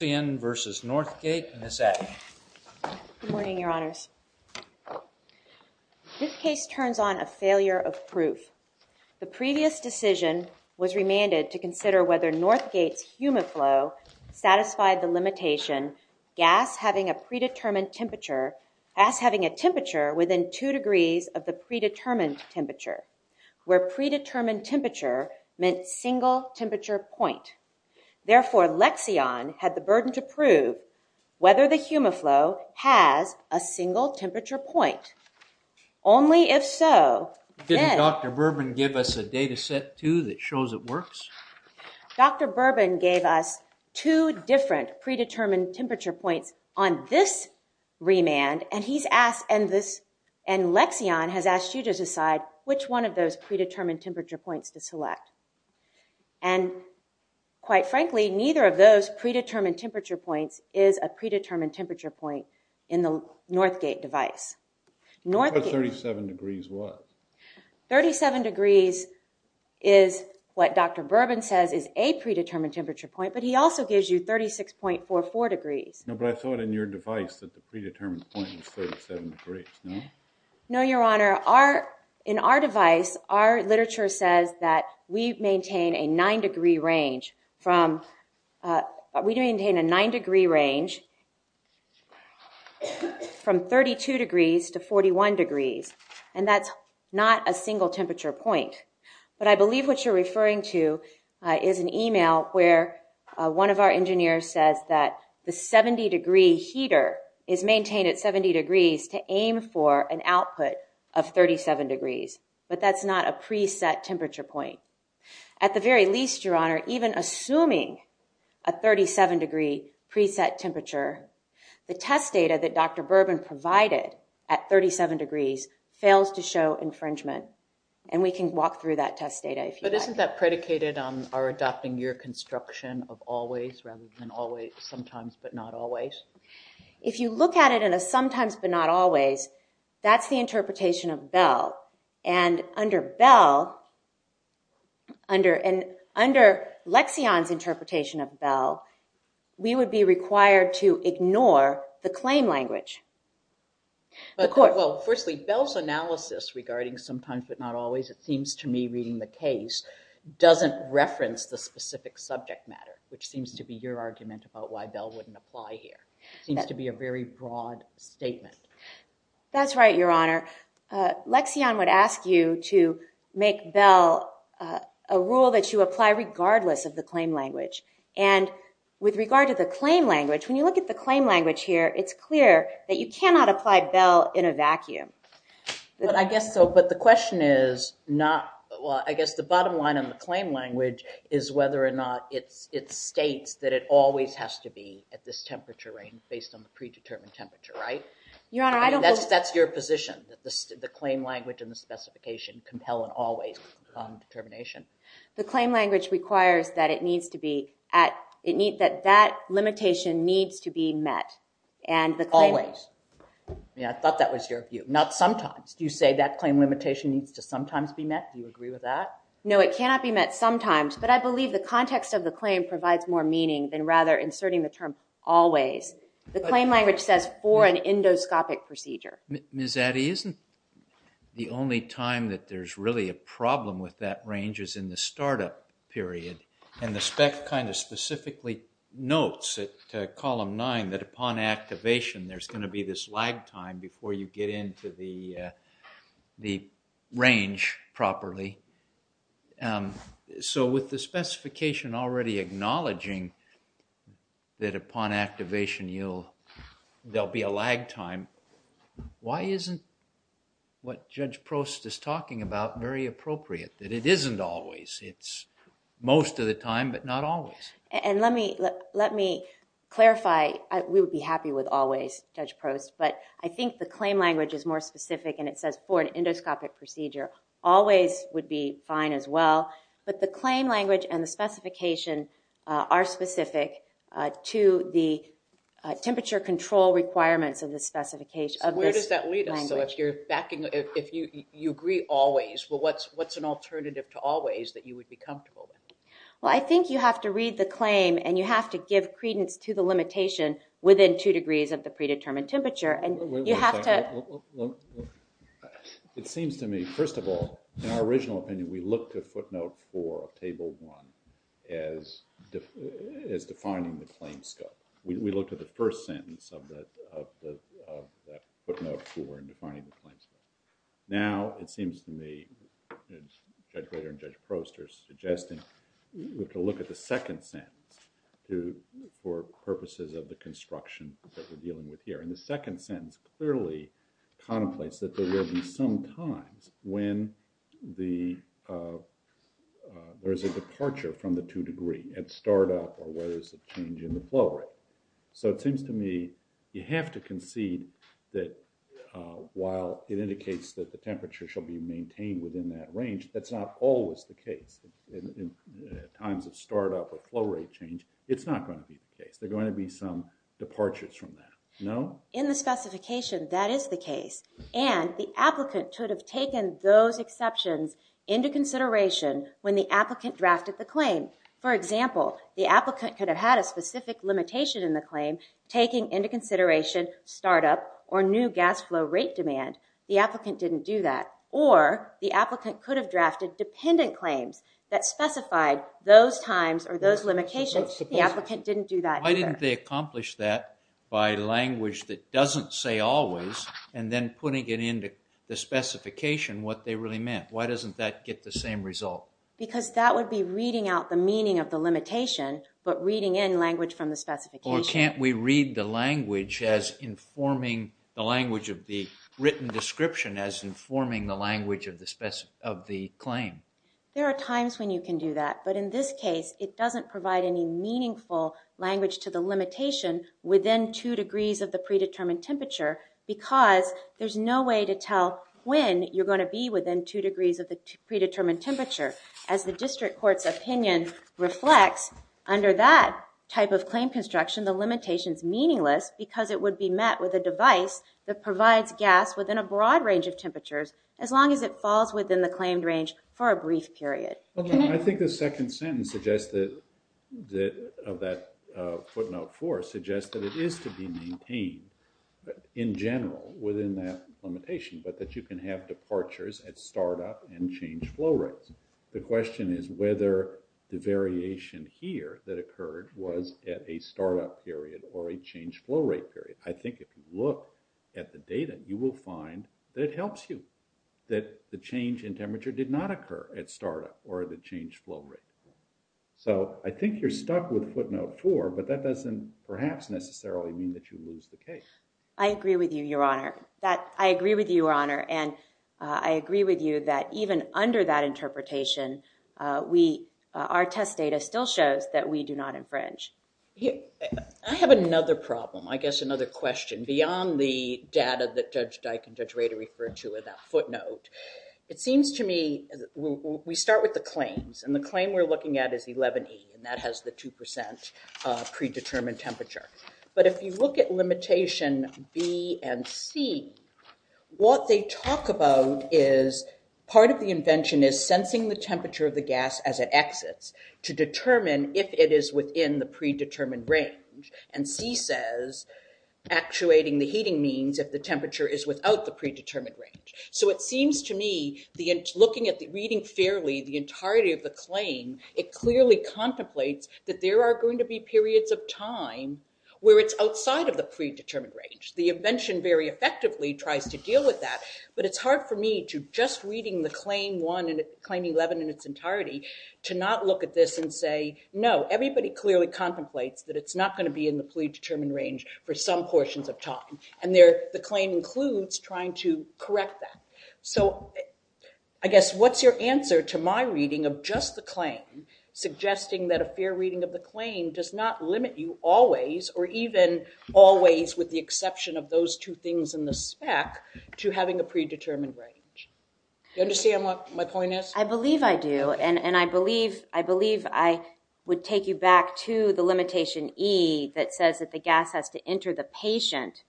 This case turns on a failure of proof. The previous decision was remanded to consider whether Northgate's HUMIFLOW satisfied the limitation gas having a temperature within 2 degrees of the predetermined temperature, where predetermined temperature meant single temperature point. Therefore LEXION had the burden to prove whether the HUMIFLOW has a single temperature point. Only if so... Didn't Dr. Bourbon give us a data set too that shows it works? Dr. Bourbon gave us two different predetermined temperature points on this remand and LEXION has asked you to decide which one of those predetermined temperature points to select. And quite frankly, neither of those predetermined temperature points is a predetermined temperature point in the NORTHGATE device. What about 37 degrees? 37 degrees is what Dr. Bourbon says is a predetermined temperature point, but he also gives you 36.44 degrees. No, but I thought in your device that the predetermined point was 37 degrees, no? No, Your Honor. In our device, our literature says that we maintain a 9 degree range from 32 degrees to 41 degrees, and that's not a single temperature point. But I believe what you're referring to is an email where one of our engineers says that the 70 degree heater is maintained at 70 degrees to aim for an output of 37 degrees, but that's not a preset temperature point. At the very least, Your Honor, even assuming a 37 degree preset temperature, the test data that Dr. Bourbon provided at 37 degrees fails to show infringement. And we can walk through that test data if you'd like. But isn't that predicated on our adopting your construction of always rather than always sometimes but not always? If you look at it in a sometimes but not always, that's the interpretation of Bell. And under Bell, under Lexion's interpretation of Bell, we would be required to ignore the claim language. Well, firstly, Bell's analysis regarding sometimes but not always, it seems to me reading the case, doesn't reference the specific subject matter, which seems to be your argument about why Bell wouldn't apply here. It seems to be a very broad statement. That's right, Your Honor. Lexion would ask you to make Bell a rule that you apply regardless of the claim language. And with regard to the claim language, when you look at the claim language here, it's clear that you cannot apply Bell in a vacuum. But I guess so. But the question is not, well, I guess the bottom line on the claim language is whether or not it states that it always has to be at this temperature range based on the predetermined temperature, right? Your Honor, I don't believe— I mean, that's your position, that the claim language and the specification compel an always determination. The claim language requires that it needs to be at—it needs—that that limitation needs to be met. And the claim— Always. Yeah, I thought that was your view. Not sometimes. Do you say that claim limitation needs to sometimes be met? Do you agree with that? No, it cannot be met sometimes. But I believe the context of the claim provides more meaning than rather inserting the term always. The claim language says for an endoscopic procedure. Ms. Addy, isn't the only time that there's really a problem with that range is in the startup period? And the spec kind of specifically notes at column nine that upon activation there's going to be this lag time before you get into the range properly. So, with the specification already acknowledging that upon activation you'll—there'll be a lag time, why isn't what Judge Prost is talking about very appropriate? That it isn't always. It's most of the time, but not always. And let me clarify. We would be happy with always, Judge Prost, but I think the claim language is more specific and it says for an endoscopic procedure, always would be fine as well. But the claim language and the specification are specific to the temperature control requirements of the specification. So, where does that lead us? So, if you're backing—if you agree always, well, what's an alternative to always that you would be comfortable with? Well, I think you have to read the claim and you have to give credence to the limitation within two degrees of the predetermined temperature. And you have to— It seems to me, first of all, in our original opinion we looked at footnote four of table one as defining the claim scope. We looked at the first sentence of that footnote four in defining the claim scope. Now it seems to me, as Judge Rader and Judge Prost are suggesting, we have to look at the second sentence for purposes of the construction that we're dealing with here. And the second sentence clearly contemplates that there will be some times when the—there's a departure from the two degree at start up or where there's a change in the flow rate. So it seems to me you have to concede that while it indicates that the temperature shall be maintained within that range, that's not always the case in times of start up or flow rate change. It's not going to be the case. There are going to be some departures from that. No? In the specification, that is the case. And the applicant could have taken those exceptions into consideration when the applicant drafted the claim. For example, the applicant could have had a specific limitation in the claim taking into consideration start up or new gas flow rate demand. The applicant didn't do that. Or the applicant could have drafted dependent claims that specified those times or those limitations. The applicant didn't do that either. Why didn't they accomplish that by language that doesn't say always and then putting it into the specification what they really meant? Why doesn't that get the same result? Because that would be reading out the meaning of the limitation but reading in language from the specification. Or can't we read the language as informing—the language of the written description as informing the language of the claim? There are times when you can do that, but in this case, it doesn't provide any meaningful language to the limitation within two degrees of the predetermined temperature because there's no way to tell when you're going to be within two degrees of the predetermined temperature. As the district court's opinion reflects, under that type of claim construction, the limitation's meaningless because it would be met with a device that provides gas within a broad range of temperatures as long as it falls within the claimed range for a brief period. I think the second sentence of that footnote four suggests that it is to be maintained in general within that limitation, but that you can have departures at start-up and change flow rates. The question is whether the variation here that occurred was at a start-up period or a change flow rate period. I think if you look at the data, you will find that it helps you that the change in temperature at start-up or the change flow rate. So I think you're stuck with footnote four, but that doesn't perhaps necessarily mean that you lose the case. I agree with you, Your Honor. I agree with you, Your Honor, and I agree with you that even under that interpretation, our test data still shows that we do not infringe. I have another problem, I guess another question, beyond the data that Judge Dyke and Judge We start with the claims, and the claim we're looking at is 1180, and that has the 2% predetermined temperature. But if you look at limitation B and C, what they talk about is part of the invention is sensing the temperature of the gas as it exits to determine if it is within the predetermined range. And C says actuating the heating means if the temperature is without the predetermined range. So it seems to me, looking at the reading fairly, the entirety of the claim, it clearly contemplates that there are going to be periods of time where it's outside of the predetermined range. The invention very effectively tries to deal with that, but it's hard for me to just reading the claim 11 in its entirety to not look at this and say, no, everybody clearly contemplates that it's not going to be in the predetermined range for some portions of time. And the claim includes trying to correct that. So I guess, what's your answer to my reading of just the claim suggesting that a fair reading of the claim does not limit you always, or even always with the exception of those two things in the spec, to having a predetermined range? Do you understand what my point is? I believe I do. And I believe I would take you back to the limitation E that says that the gas has to get to the patient,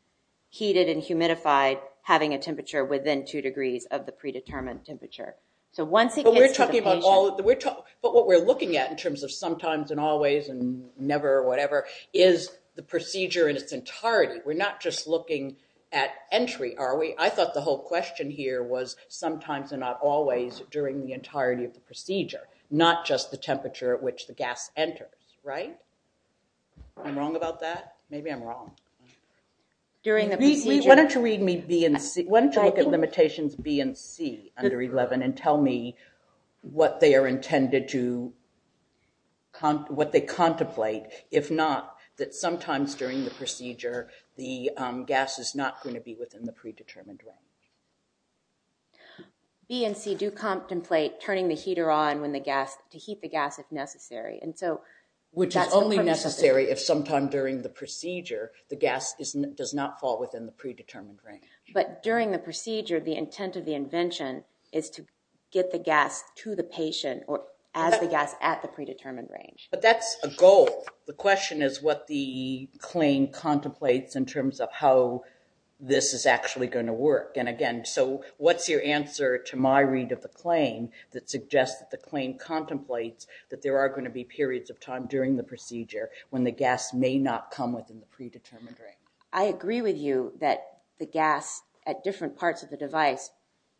heated and humidified, having a temperature within two degrees of the predetermined temperature. So once it gets to the patient... But what we're looking at in terms of sometimes and always and never or whatever is the procedure in its entirety. We're not just looking at entry, are we? I thought the whole question here was sometimes and not always during the entirety of the procedure, not just the temperature at which the gas enters, right? I'm wrong about that? Maybe I'm wrong. During the procedure... Why don't you read me B and C. Why don't you look at limitations B and C under 11 and tell me what they are intended to... What they contemplate, if not, that sometimes during the procedure the gas is not going to be within the predetermined range. B and C do contemplate turning the heater on when the gas... To heat the gas if necessary. And so... Which is only necessary if sometime during the procedure the gas does not fall within the predetermined range. But during the procedure, the intent of the invention is to get the gas to the patient or as the gas at the predetermined range. But that's a goal. The question is what the claim contemplates in terms of how this is actually going to work. And again, so what's your answer to my read of the claim that suggests that the claim time during the procedure when the gas may not come within the predetermined range. I agree with you that the gas at different parts of the device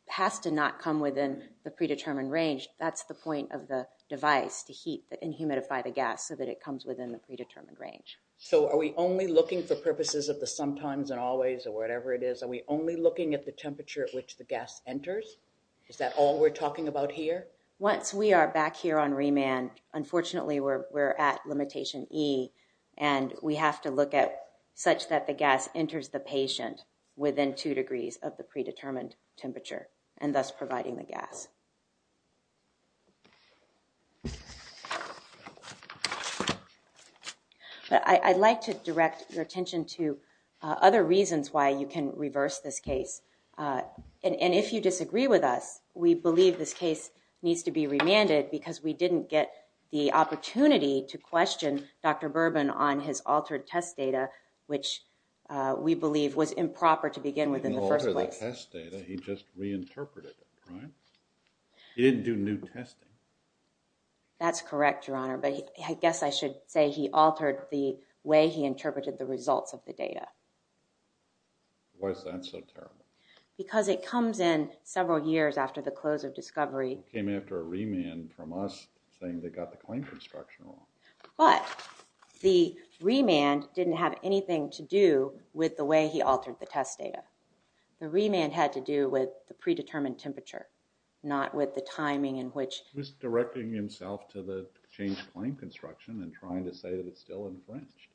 has to not come within the predetermined range. That's the point of the device to heat and humidify the gas so that it comes within the predetermined range. So are we only looking for purposes of the sometimes and always or whatever it is? Are we only looking at the temperature at which the gas enters? Is that all we're talking about here? Once we are back here on remand, unfortunately, we're at limitation E and we have to look at such that the gas enters the patient within two degrees of the predetermined temperature and thus providing the gas. I'd like to direct your attention to other reasons why you can reverse this case. And if you disagree with us, we believe this case needs to be remanded because we didn't get the opportunity to question Dr. Bourbon on his altered test data, which we believe was improper to begin with in the first place. He didn't alter the test data, he just reinterpreted it, right? He didn't do new testing. That's correct, Your Honor. But I guess I should say he altered the way he interpreted the results of the data. Why is that so terrible? Because it comes in several years after the close of discovery. He came after a remand from us saying they got the claim construction wrong. But the remand didn't have anything to do with the way he altered the test data. The remand had to do with the predetermined temperature, not with the timing in which He was directing himself to the changed claim construction and trying to say that it's still being quenched.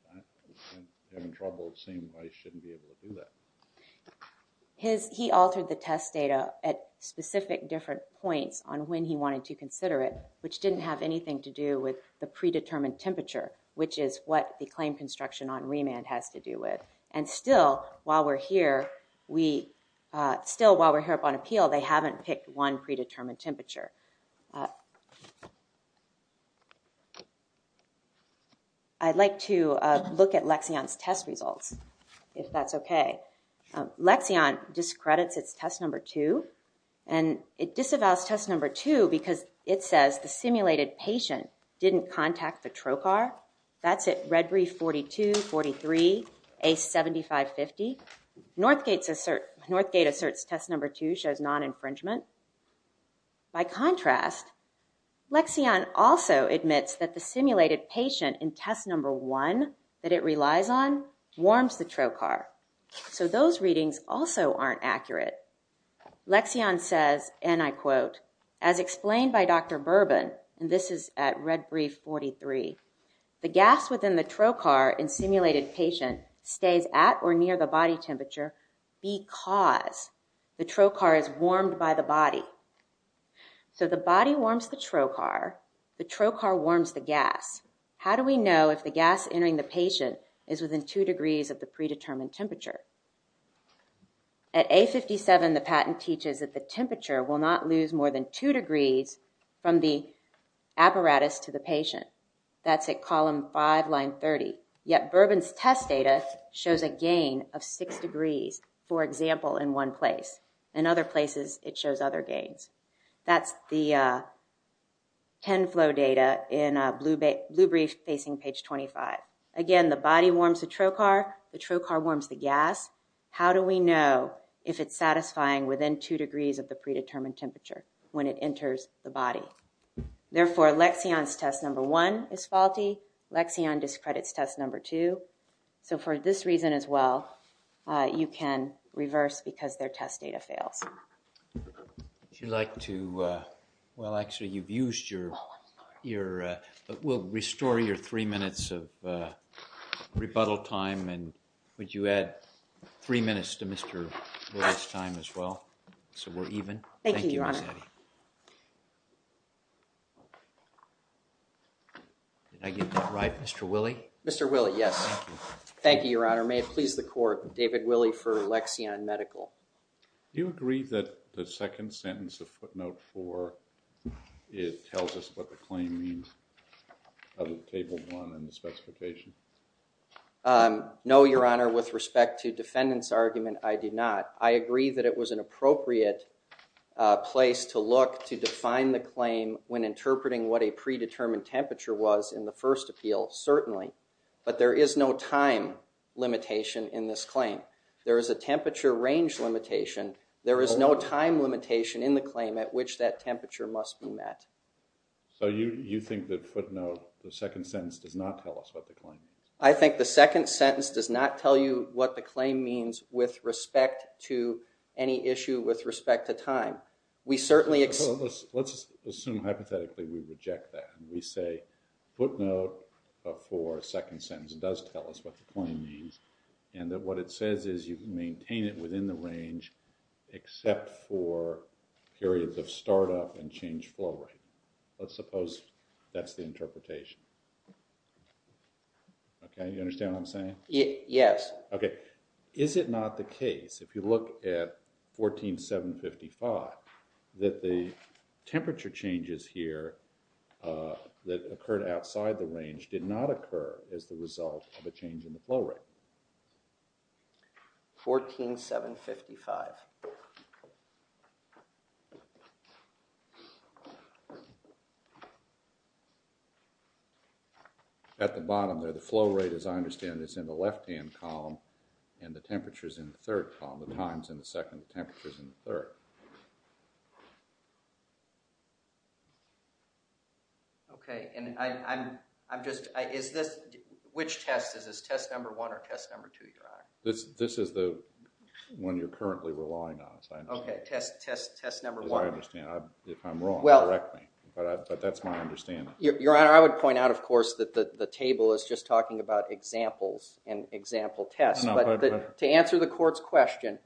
I'm having trouble seeing why he shouldn't be able to do that. He altered the test data at specific different points on when he wanted to consider it, which didn't have anything to do with the predetermined temperature, which is what the claim construction on remand has to do with. And still, while we're here, we, still while we're here up on appeal, they haven't picked one predetermined temperature. I'd like to look at Lexion's test results, if that's okay. Lexion discredits its test number two, and it disavows test number two because it says the simulated patient didn't contact the trocar. That's at Red Reef 42, 43, A7550. Northgate asserts test number two shows non-infringement. By contrast, Lexion also admits that the simulated patient in test number one that it relies on warms the trocar. So those readings also aren't accurate. Lexion says, and I quote, as explained by Dr. Bourbon, and this is at Red Reef 43, the gas within the trocar in simulated patient stays at or near the body temperature because the trocar is warmed by the body. So the body warms the trocar, the trocar warms the gas. How do we know if the gas entering the patient is within two degrees of the predetermined temperature? At A57, the patent teaches that the temperature will not lose more than two degrees from the apparatus to the patient. That's at column five, line 30. Yet Bourbon's test data shows a gain of six degrees, for example, in one place. In other places, it shows other gains. That's the 10 flow data in Blue Brief facing page 25. Again, the body warms the trocar, the trocar warms the gas. How do we know if it's satisfying within two degrees of the predetermined temperature when it enters the body? Therefore, Lexion's test number one is faulty. Lexion discredits test number two. So for this reason as well, you can reverse because their test data fails. Would you like to, well actually you've used your, we'll restore your three minutes of rebuttal time and would you add three minutes to Mr. Wood's time as well so we're even? Thank you, Ms. Eddy. Did I get that right, Mr. Willey? Mr. Willey, yes. Thank you. Thank you, Your Honor. May it please the court, David Willey for Lexion Medical. Do you agree that the second sentence of footnote four, it tells us what the claim means of table one in the specification? No, Your Honor. With respect to defendant's argument, I do not. I agree that it was an appropriate place to look to define the claim when interpreting what a predetermined temperature was in the first appeal, certainly. But there is no time limitation in this claim. There is a temperature range limitation. There is no time limitation in the claim at which that temperature must be met. So you think that footnote, the second sentence does not tell us what the claim is? I think the second sentence does not tell you what the claim means with respect to any issue with respect to time. We certainly... Let's assume hypothetically we reject that and we say footnote four, second sentence, does tell us what the claim means and that what it says is you can maintain it within the range except for periods of startup and change flow rate. Let's suppose that's the interpretation. Okay, you understand what I'm saying? Yes. Okay. Is it not the case, if you look at 14755, that the temperature changes here that occurred outside the range did not occur as the result of a change in the flow rate? 14755. At the bottom there, the flow rate, as I understand it, is in the left-hand column and the temperature is in the third column. The time is in the second, the temperature is in the third. Okay, and I'm just... Is this... Which test? Is this test number one or test number two, Your Honor? This is the one you're currently relying on. Okay, test number one. As I understand, if I'm wrong, correct me, but that's my understanding. Your Honor, I would point out, of course, that the table is just talking about examples and example tests, but to answer the court's question,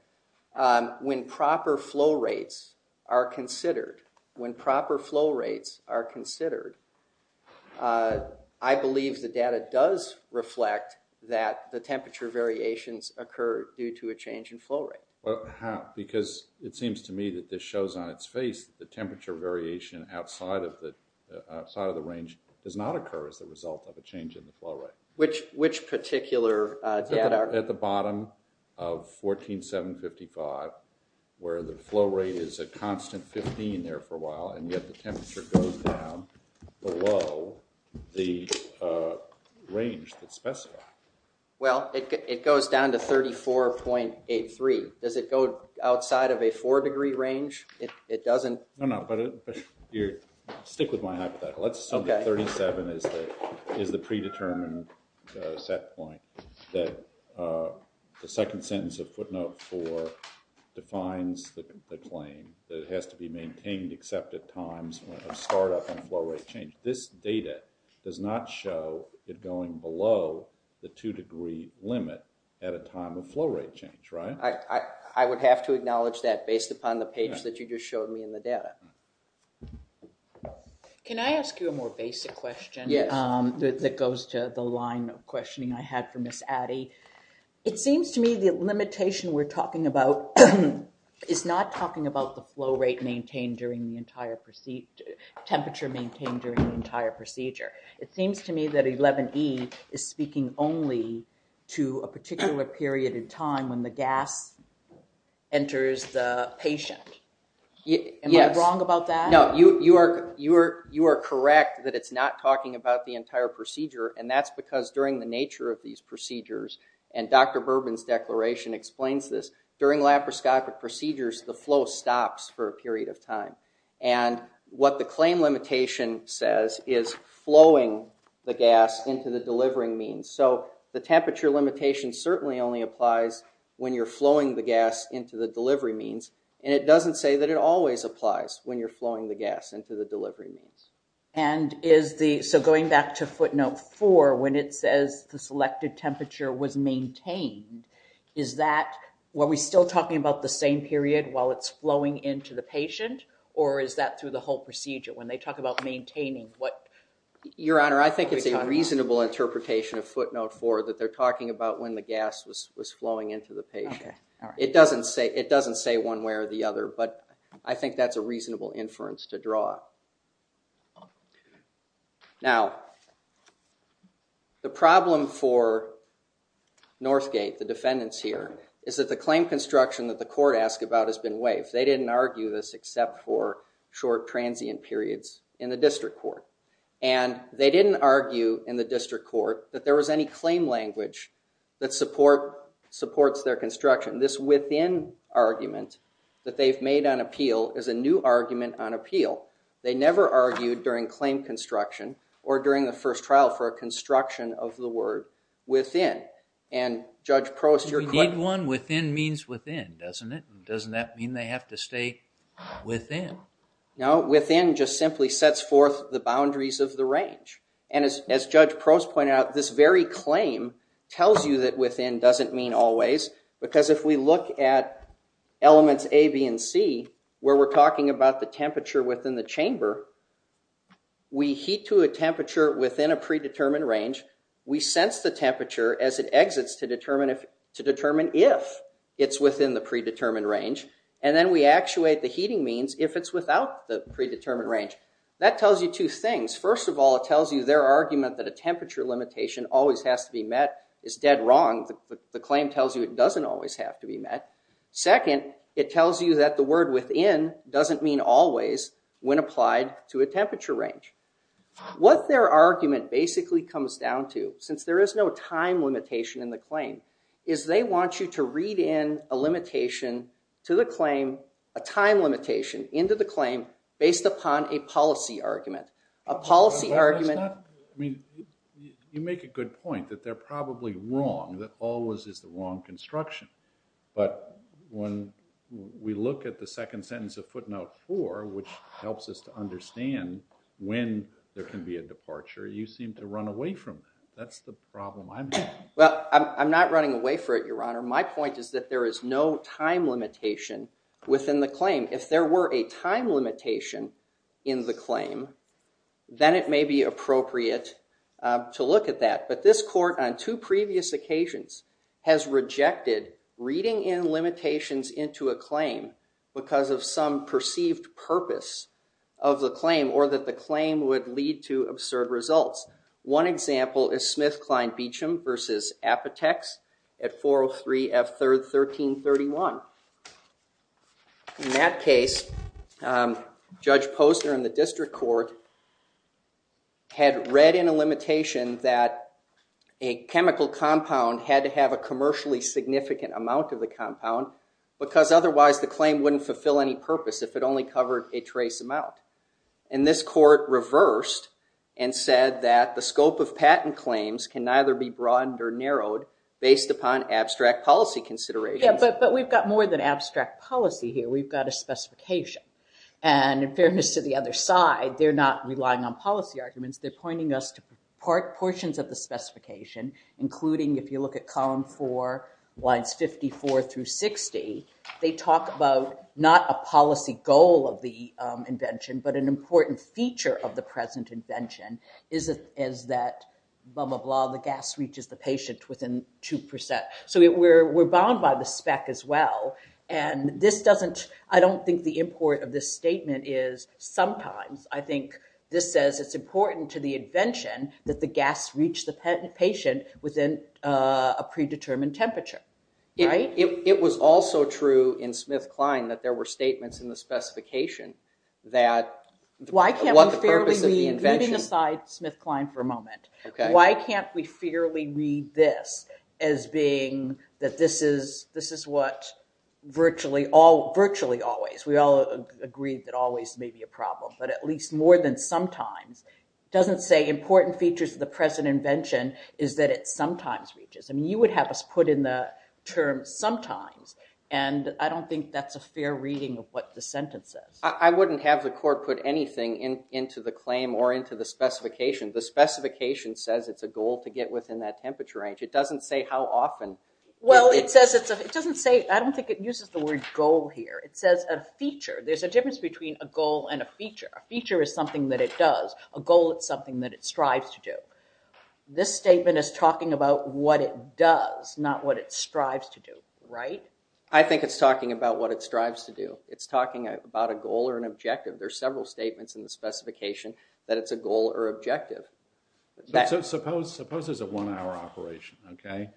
when proper flow rates are considered, when proper flow rates are considered, I believe the data does reflect that the temperature variations occur due to a change in flow rate. How? Because it seems to me that this shows on its face that the temperature variation outside of the range does not occur as the result of a change in the flow rate. Which particular data? At the bottom of 14755, where the flow rate is a constant 15 there for a while, and yet the temperature goes down below the range that's specified. Well, it goes down to 34.83. Does it go outside of a four degree range? It doesn't? No, no, but stick with my hypothetical. Let's assume that 37 is the predetermined set point that the second sentence of footnote four defines the claim, that it has to be maintained except at times of startup and flow rate change. This data does not show it going below the two degree limit at a time of flow rate change, right? I would have to acknowledge that based upon the page that you just showed me in the data. Can I ask you a more basic question that goes to the line of questioning I had for Ms. Addy? It seems to me the limitation we're talking about is not talking about the flow rate maintained during the entire procedure, temperature maintained during the entire procedure. It seems to me that 11E is speaking only to a particular period of time when the gas enters the patient. Am I wrong about that? No, you are correct that it's not talking about the entire procedure, and that's because during the nature of these procedures, and Dr. Bourbon's declaration explains this, during laparoscopic procedures, the flow stops for a period of time, and what the claim limitation says is flowing the gas into the delivering means. So, the temperature limitation certainly only applies when you're flowing the gas into the delivery means, and it doesn't say that it always applies when you're flowing the gas into the delivery means. And is the, so going back to footnote four, when it says the selected temperature was maintained, is that, were we still talking about the same period while it's flowing into the patient, or is that through the whole procedure? When they talk about maintaining, what? Your Honor, I think it's a reasonable interpretation of footnote four that they're talking about when the gas was flowing into the patient. Okay, all right. It doesn't say one way or the other, but I think that's a reasonable inference to draw. Now, the problem for Northgate, the defendants here, is that the claim construction that the court asked about has been waived. They didn't argue this except for short transient periods in the district court. And they didn't argue in the district court that there was any claim language that supports their construction. And this within argument that they've made on appeal is a new argument on appeal. They never argued during claim construction or during the first trial for a construction of the word within. And Judge Prost, your question. We need one within means within, doesn't it? Doesn't that mean they have to stay within? No, within just simply sets forth the boundaries of the range. And as Judge Prost pointed out, this very claim tells you that within doesn't mean always, because if we look at elements A, B, and C, where we're talking about the temperature within the chamber, we heat to a temperature within a predetermined range. We sense the temperature as it exits to determine if it's within the predetermined range. And then we actuate the heating means if it's without the predetermined range. That tells you two things. First of all, it tells you their argument that a temperature limitation always has to be met is dead wrong. The claim tells you it doesn't always have to be met. Second, it tells you that the word within doesn't mean always when applied to a temperature range. What their argument basically comes down to, since there is no time limitation in the claim, is they want you to read in a limitation to the claim, a time limitation into the claim, based upon a policy argument. You make a good point that they're probably wrong, that always is the wrong construction. But when we look at the second sentence of footnote four, which helps us to understand when there can be a departure, you seem to run away from that. That's the problem I'm having. Well, I'm not running away from it, Your Honor. My point is that there is no time limitation within the claim. If there were a time limitation in the claim, then it may be appropriate to look at that. But this court, on two previous occasions, has rejected reading in limitations into a claim because of some perceived purpose of the claim or that the claim would lead to absurd results. One example is Smith, Klein, Beecham v. Apotex at 403 F. 3rd, 1331. In that case, Judge Posner in the district court had read in a limitation that a chemical compound had to have a commercially significant amount of the compound because otherwise the claim wouldn't fulfill any purpose if it only covered a trace amount. And this court reversed and said that the scope of patent claims can neither be broadened or narrowed based upon abstract policy considerations. But we've got more than abstract policy here. We've got a specification. And in fairness to the other side, they're not relying on policy arguments. They're pointing us to portions of the specification, including if you look at column 4, lines 54 through 60, they talk about not a policy goal of the invention, but an important feature of the present invention is that blah, blah, blah, the gas reaches the patient within 2%. So we're bound by the spec as well. And I don't think the import of this statement is sometimes. I think this says it's important to the invention that the gas reach the patient within a predetermined temperature. It was also true in Smith, Klein that there were statements in the specification that what the purpose of the invention... Leaving aside Smith, Klein for a moment. Why can't we fairly read this as being that this is what virtually always... We all agree that always may be a problem, but at least more than sometimes. It doesn't say important features of the present invention is that it sometimes reaches. I mean, you would have us put in the term sometimes, and I don't think that's a fair reading of what the sentence says. I wouldn't have the court put anything into the claim or into the specification. The specification says it's a goal to get within that temperature range. It doesn't say how often. Well, it doesn't say... I don't think it uses the word goal here. It says a feature. There's a difference between a goal and a feature. A feature is something that it does. A goal is something that it strives to do. This statement is talking about what it does, not what it strives to do, right? I think it's talking about what it strives to do. It's talking about a goal or an objective. There are several statements in the specification that it's a goal or objective. Suppose there's a one-hour operation, okay?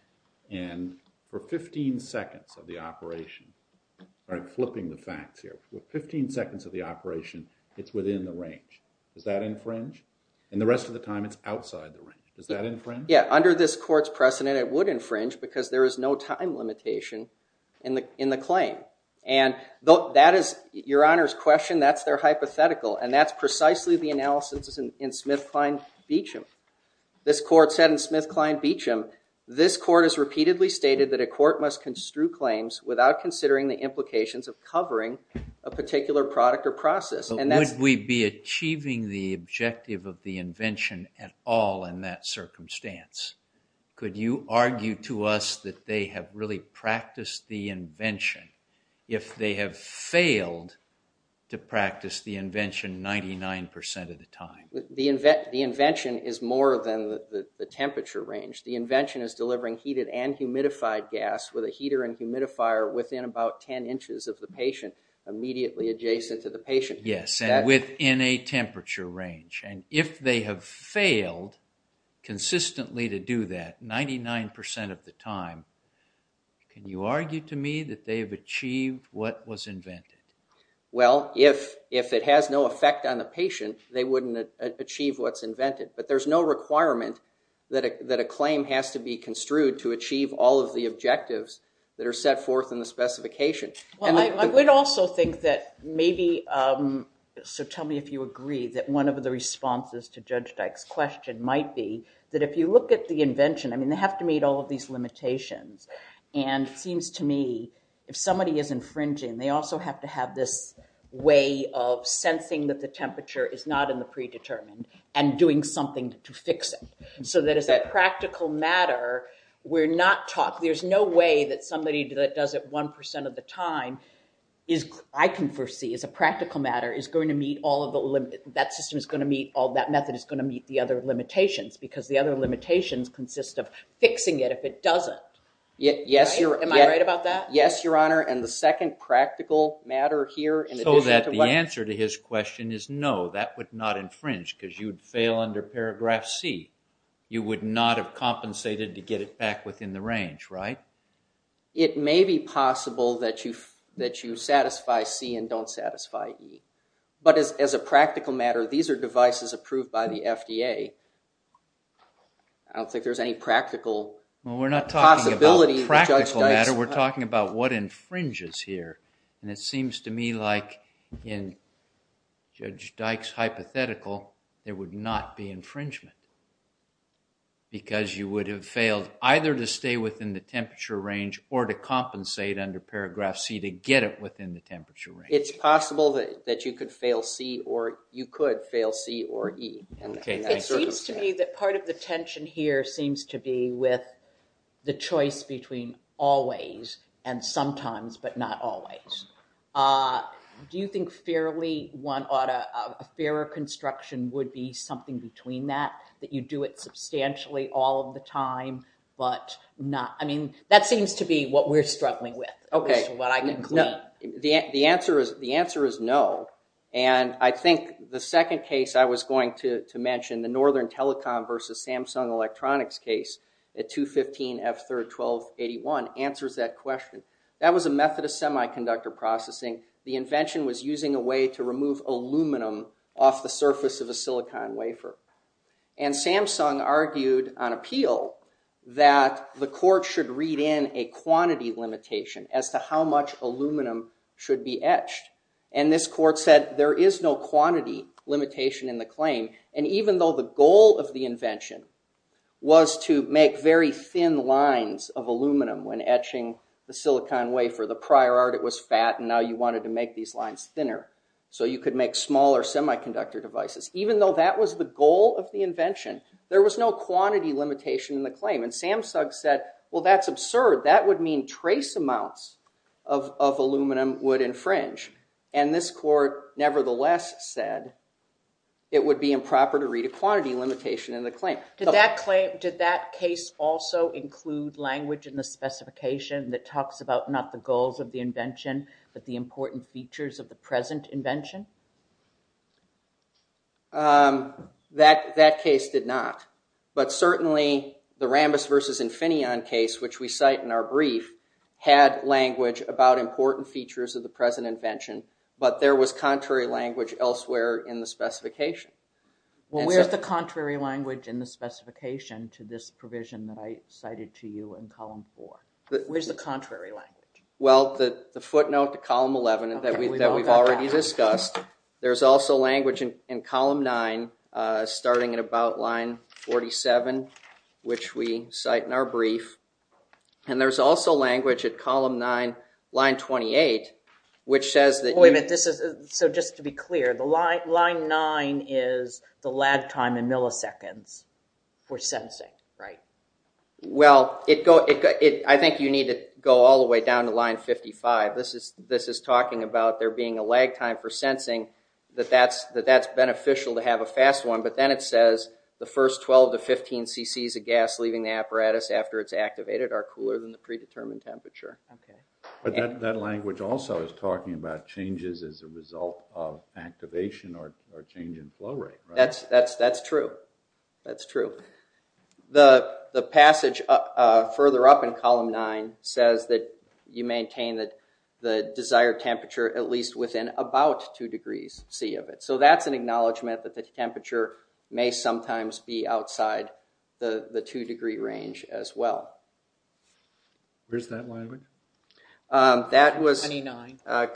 And for 15 seconds of the operation... All right, flipping the facts here. For 15 seconds of the operation, it's within the range. Does that infringe? And the rest of the time, it's outside the range. Does that infringe? Yeah, under this court's precedent, it would infringe because there is no time limitation in the claim. Your Honor's question, that's their hypothetical, and that's precisely the analysis in Smith-Klein-Beacham. This court said in Smith-Klein-Beacham, this court has repeatedly stated that a court must construe claims without considering the implications of covering a particular product or process. But would we be achieving the objective of the invention at all in that circumstance? Could you argue to us that they have really practiced the invention if they have failed to practice the invention 99% of the time? The invention is more than the temperature range. The invention is delivering heated and humidified gas with a heater and humidifier within about 10 inches of the patient, immediately adjacent to the patient. Yes, and within a temperature range. And if they have failed consistently to do that 99% of the time, can you argue to me that they have achieved what was invented? Well, if it has no effect on the patient, they wouldn't achieve what's invented. But there's no requirement that a claim has to be construed to achieve all of the objectives that are set forth in the specification. Well, I would also think that maybe, so tell me if you agree, that one of the responses to Judge Dyke's question might be that if you look at the invention, I mean, they have to meet all of these limitations. And it seems to me, if somebody is infringing, they also have to have this way of sensing that the temperature is not in the predetermined and doing something to fix it. So that as a practical matter, we're not taught, there's no way that somebody that does it 1% of the time, I can foresee as a practical matter, is going to meet all of the limit, that system is going to meet all, that method is going to meet the other limitations. Because the other limitations consist of fixing it if it doesn't. Yes, Your Honor. Am I right about that? Yes, Your Honor. And the second practical matter here in addition to what... So that the answer to his question is no, that would not infringe because you'd fail under paragraph C. You would not have compensated to get it back within the range, right? It may be possible that you satisfy C and don't satisfy E. But as a practical matter, these are devices approved by the FDA. I don't think there's any practical possibility... Well, we're not talking about practical matter, we're talking about what infringes here. And it seems to me like in Judge Dyke's hypothetical, there would not be infringement because you would have failed either to stay within the temperature range or to compensate under paragraph C to get it within the temperature range. It's possible that you could fail C or you could fail C or E. It seems to me that part of the tension here seems to be with the choice between always and sometimes but not always. Do you think a fairer construction would be something between that? That you do it substantially all of the time but not... I mean, that seems to be what we're struggling with. The answer is no. And I think the second case I was going to mention, the Northern Telecom versus Samsung Electronics case at 215F3R1281 answers that question. That was a method of semiconductor processing. The invention was using a way to remove aluminum off the surface of a silicon wafer. And Samsung argued on appeal that the court should read in a quantity limitation as to how much aluminum should be etched. And this court said there is no quantity limitation in the claim. And even though the goal of the invention was to make very thin lines of aluminum when etching the silicon wafer, the prior art it was fat and now you wanted to make these lines thinner. So you could make smaller semiconductor devices. Even though that was the goal of the invention, there was no quantity limitation in the claim. And Samsung said, well, that's absurd. That would mean trace amounts of aluminum would infringe. And this court nevertheless said it would be improper to read a quantity limitation in the claim. Did that case also include language in the specification that talks about not the goals of the invention but the important features of the present invention? That case did not. But certainly the Rambus versus Infineon case, which we cite in our brief, had language about important features of the present invention. But there was contrary language elsewhere in the specification. Well, where's the contrary language in the specification to this provision that I cited to you in column four? Where's the contrary language? Well, the footnote to column 11 that we've already discussed, there's also language in column nine, starting at about line 47, which we cite in our brief. And there's also language at column nine, line 28, which says that... Wait a minute, so just to be clear, line nine is the lag time in milliseconds for sensing, right? Well, I think you need to go all the way down to line 55. This is talking about there being a lag time for sensing, that that's beneficial to have a fast one, but then it says the first 12 to 15 cc's of gas leaving the apparatus after it's activated are cooler than the predetermined temperature. But that language also is talking about changes as a result of activation or change in flow rate, right? That's true, that's true. The passage further up in column nine says that you maintain the desired temperature at least within about two degrees C of it. So that's an acknowledgment that the temperature may sometimes be outside the two degree range as well. Where's that language? That was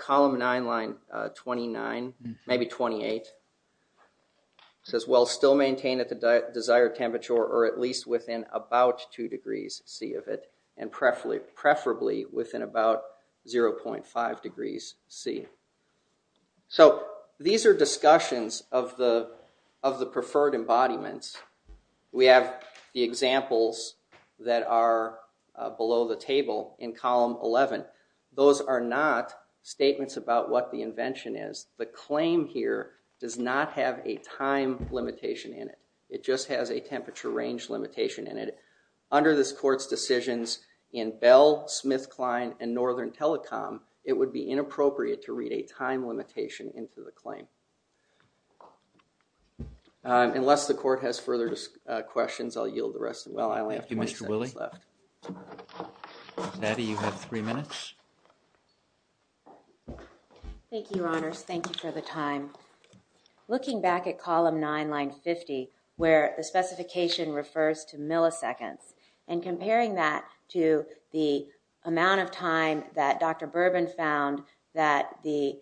column nine, line 29, maybe 28. It says, well, still maintain at the desired temperature or at least within about two degrees C of it and preferably within about 0.5 degrees C. So these are discussions of the preferred embodiments. We have the examples that are below the table in column 11. Those are not statements about what the invention is. The claim here does not have a time limitation in it. It just has a temperature range limitation in it. Under this court's decisions in Bell, SmithKline, and Northern Telecom, it would be inappropriate to read a time limitation into the claim. Unless the court has further questions, I'll yield the rest. Well, I only have 20 seconds left. Thank you, Mr. Willie. Patty, you have three minutes. Thank you, Your Honors. Thank you for the time. Looking back at column nine, line 50, where the specification refers to milliseconds and comparing that to the amount of time that Dr. Bourbon found that the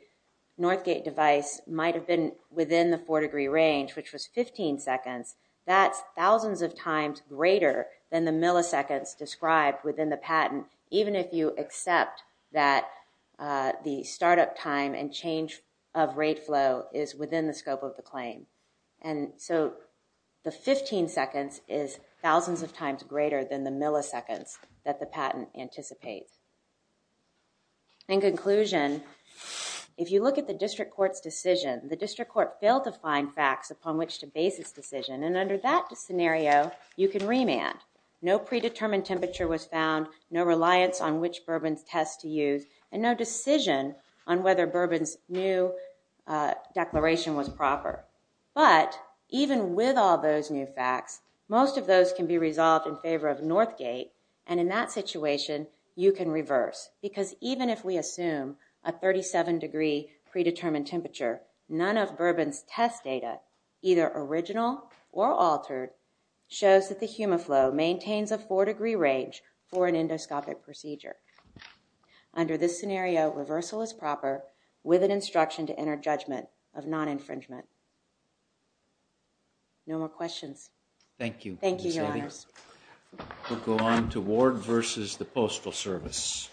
Northgate device might have been within the four degree range, which was 15 seconds, that's thousands of times greater than the milliseconds described within the patent, even if you accept that the startup time and change of rate flow is within the scope of the claim. And so the 15 seconds is thousands of times greater than the milliseconds that the patent anticipates. In conclusion, if you look at the district court's decision, the district court failed to find facts upon which to base its decision. And under that scenario, you can remand. No predetermined temperature was found. No reliance on which Bourbon's test to use. And no decision on whether Bourbon's new declaration was proper. But even with all those new facts, most of those can be resolved in favor of Northgate. And in that situation, you can reverse. Because even if we assume a 37 degree predetermined temperature, none of Bourbon's test data, either original or altered, shows that the HumaFlo maintains a four degree range for an endoscopic procedure. Under this scenario, reversal is proper with an instruction to enter judgment of non-infringement. No more questions. Thank you. Thank you, Your Honors. We'll go on to Ward versus the Postal Service.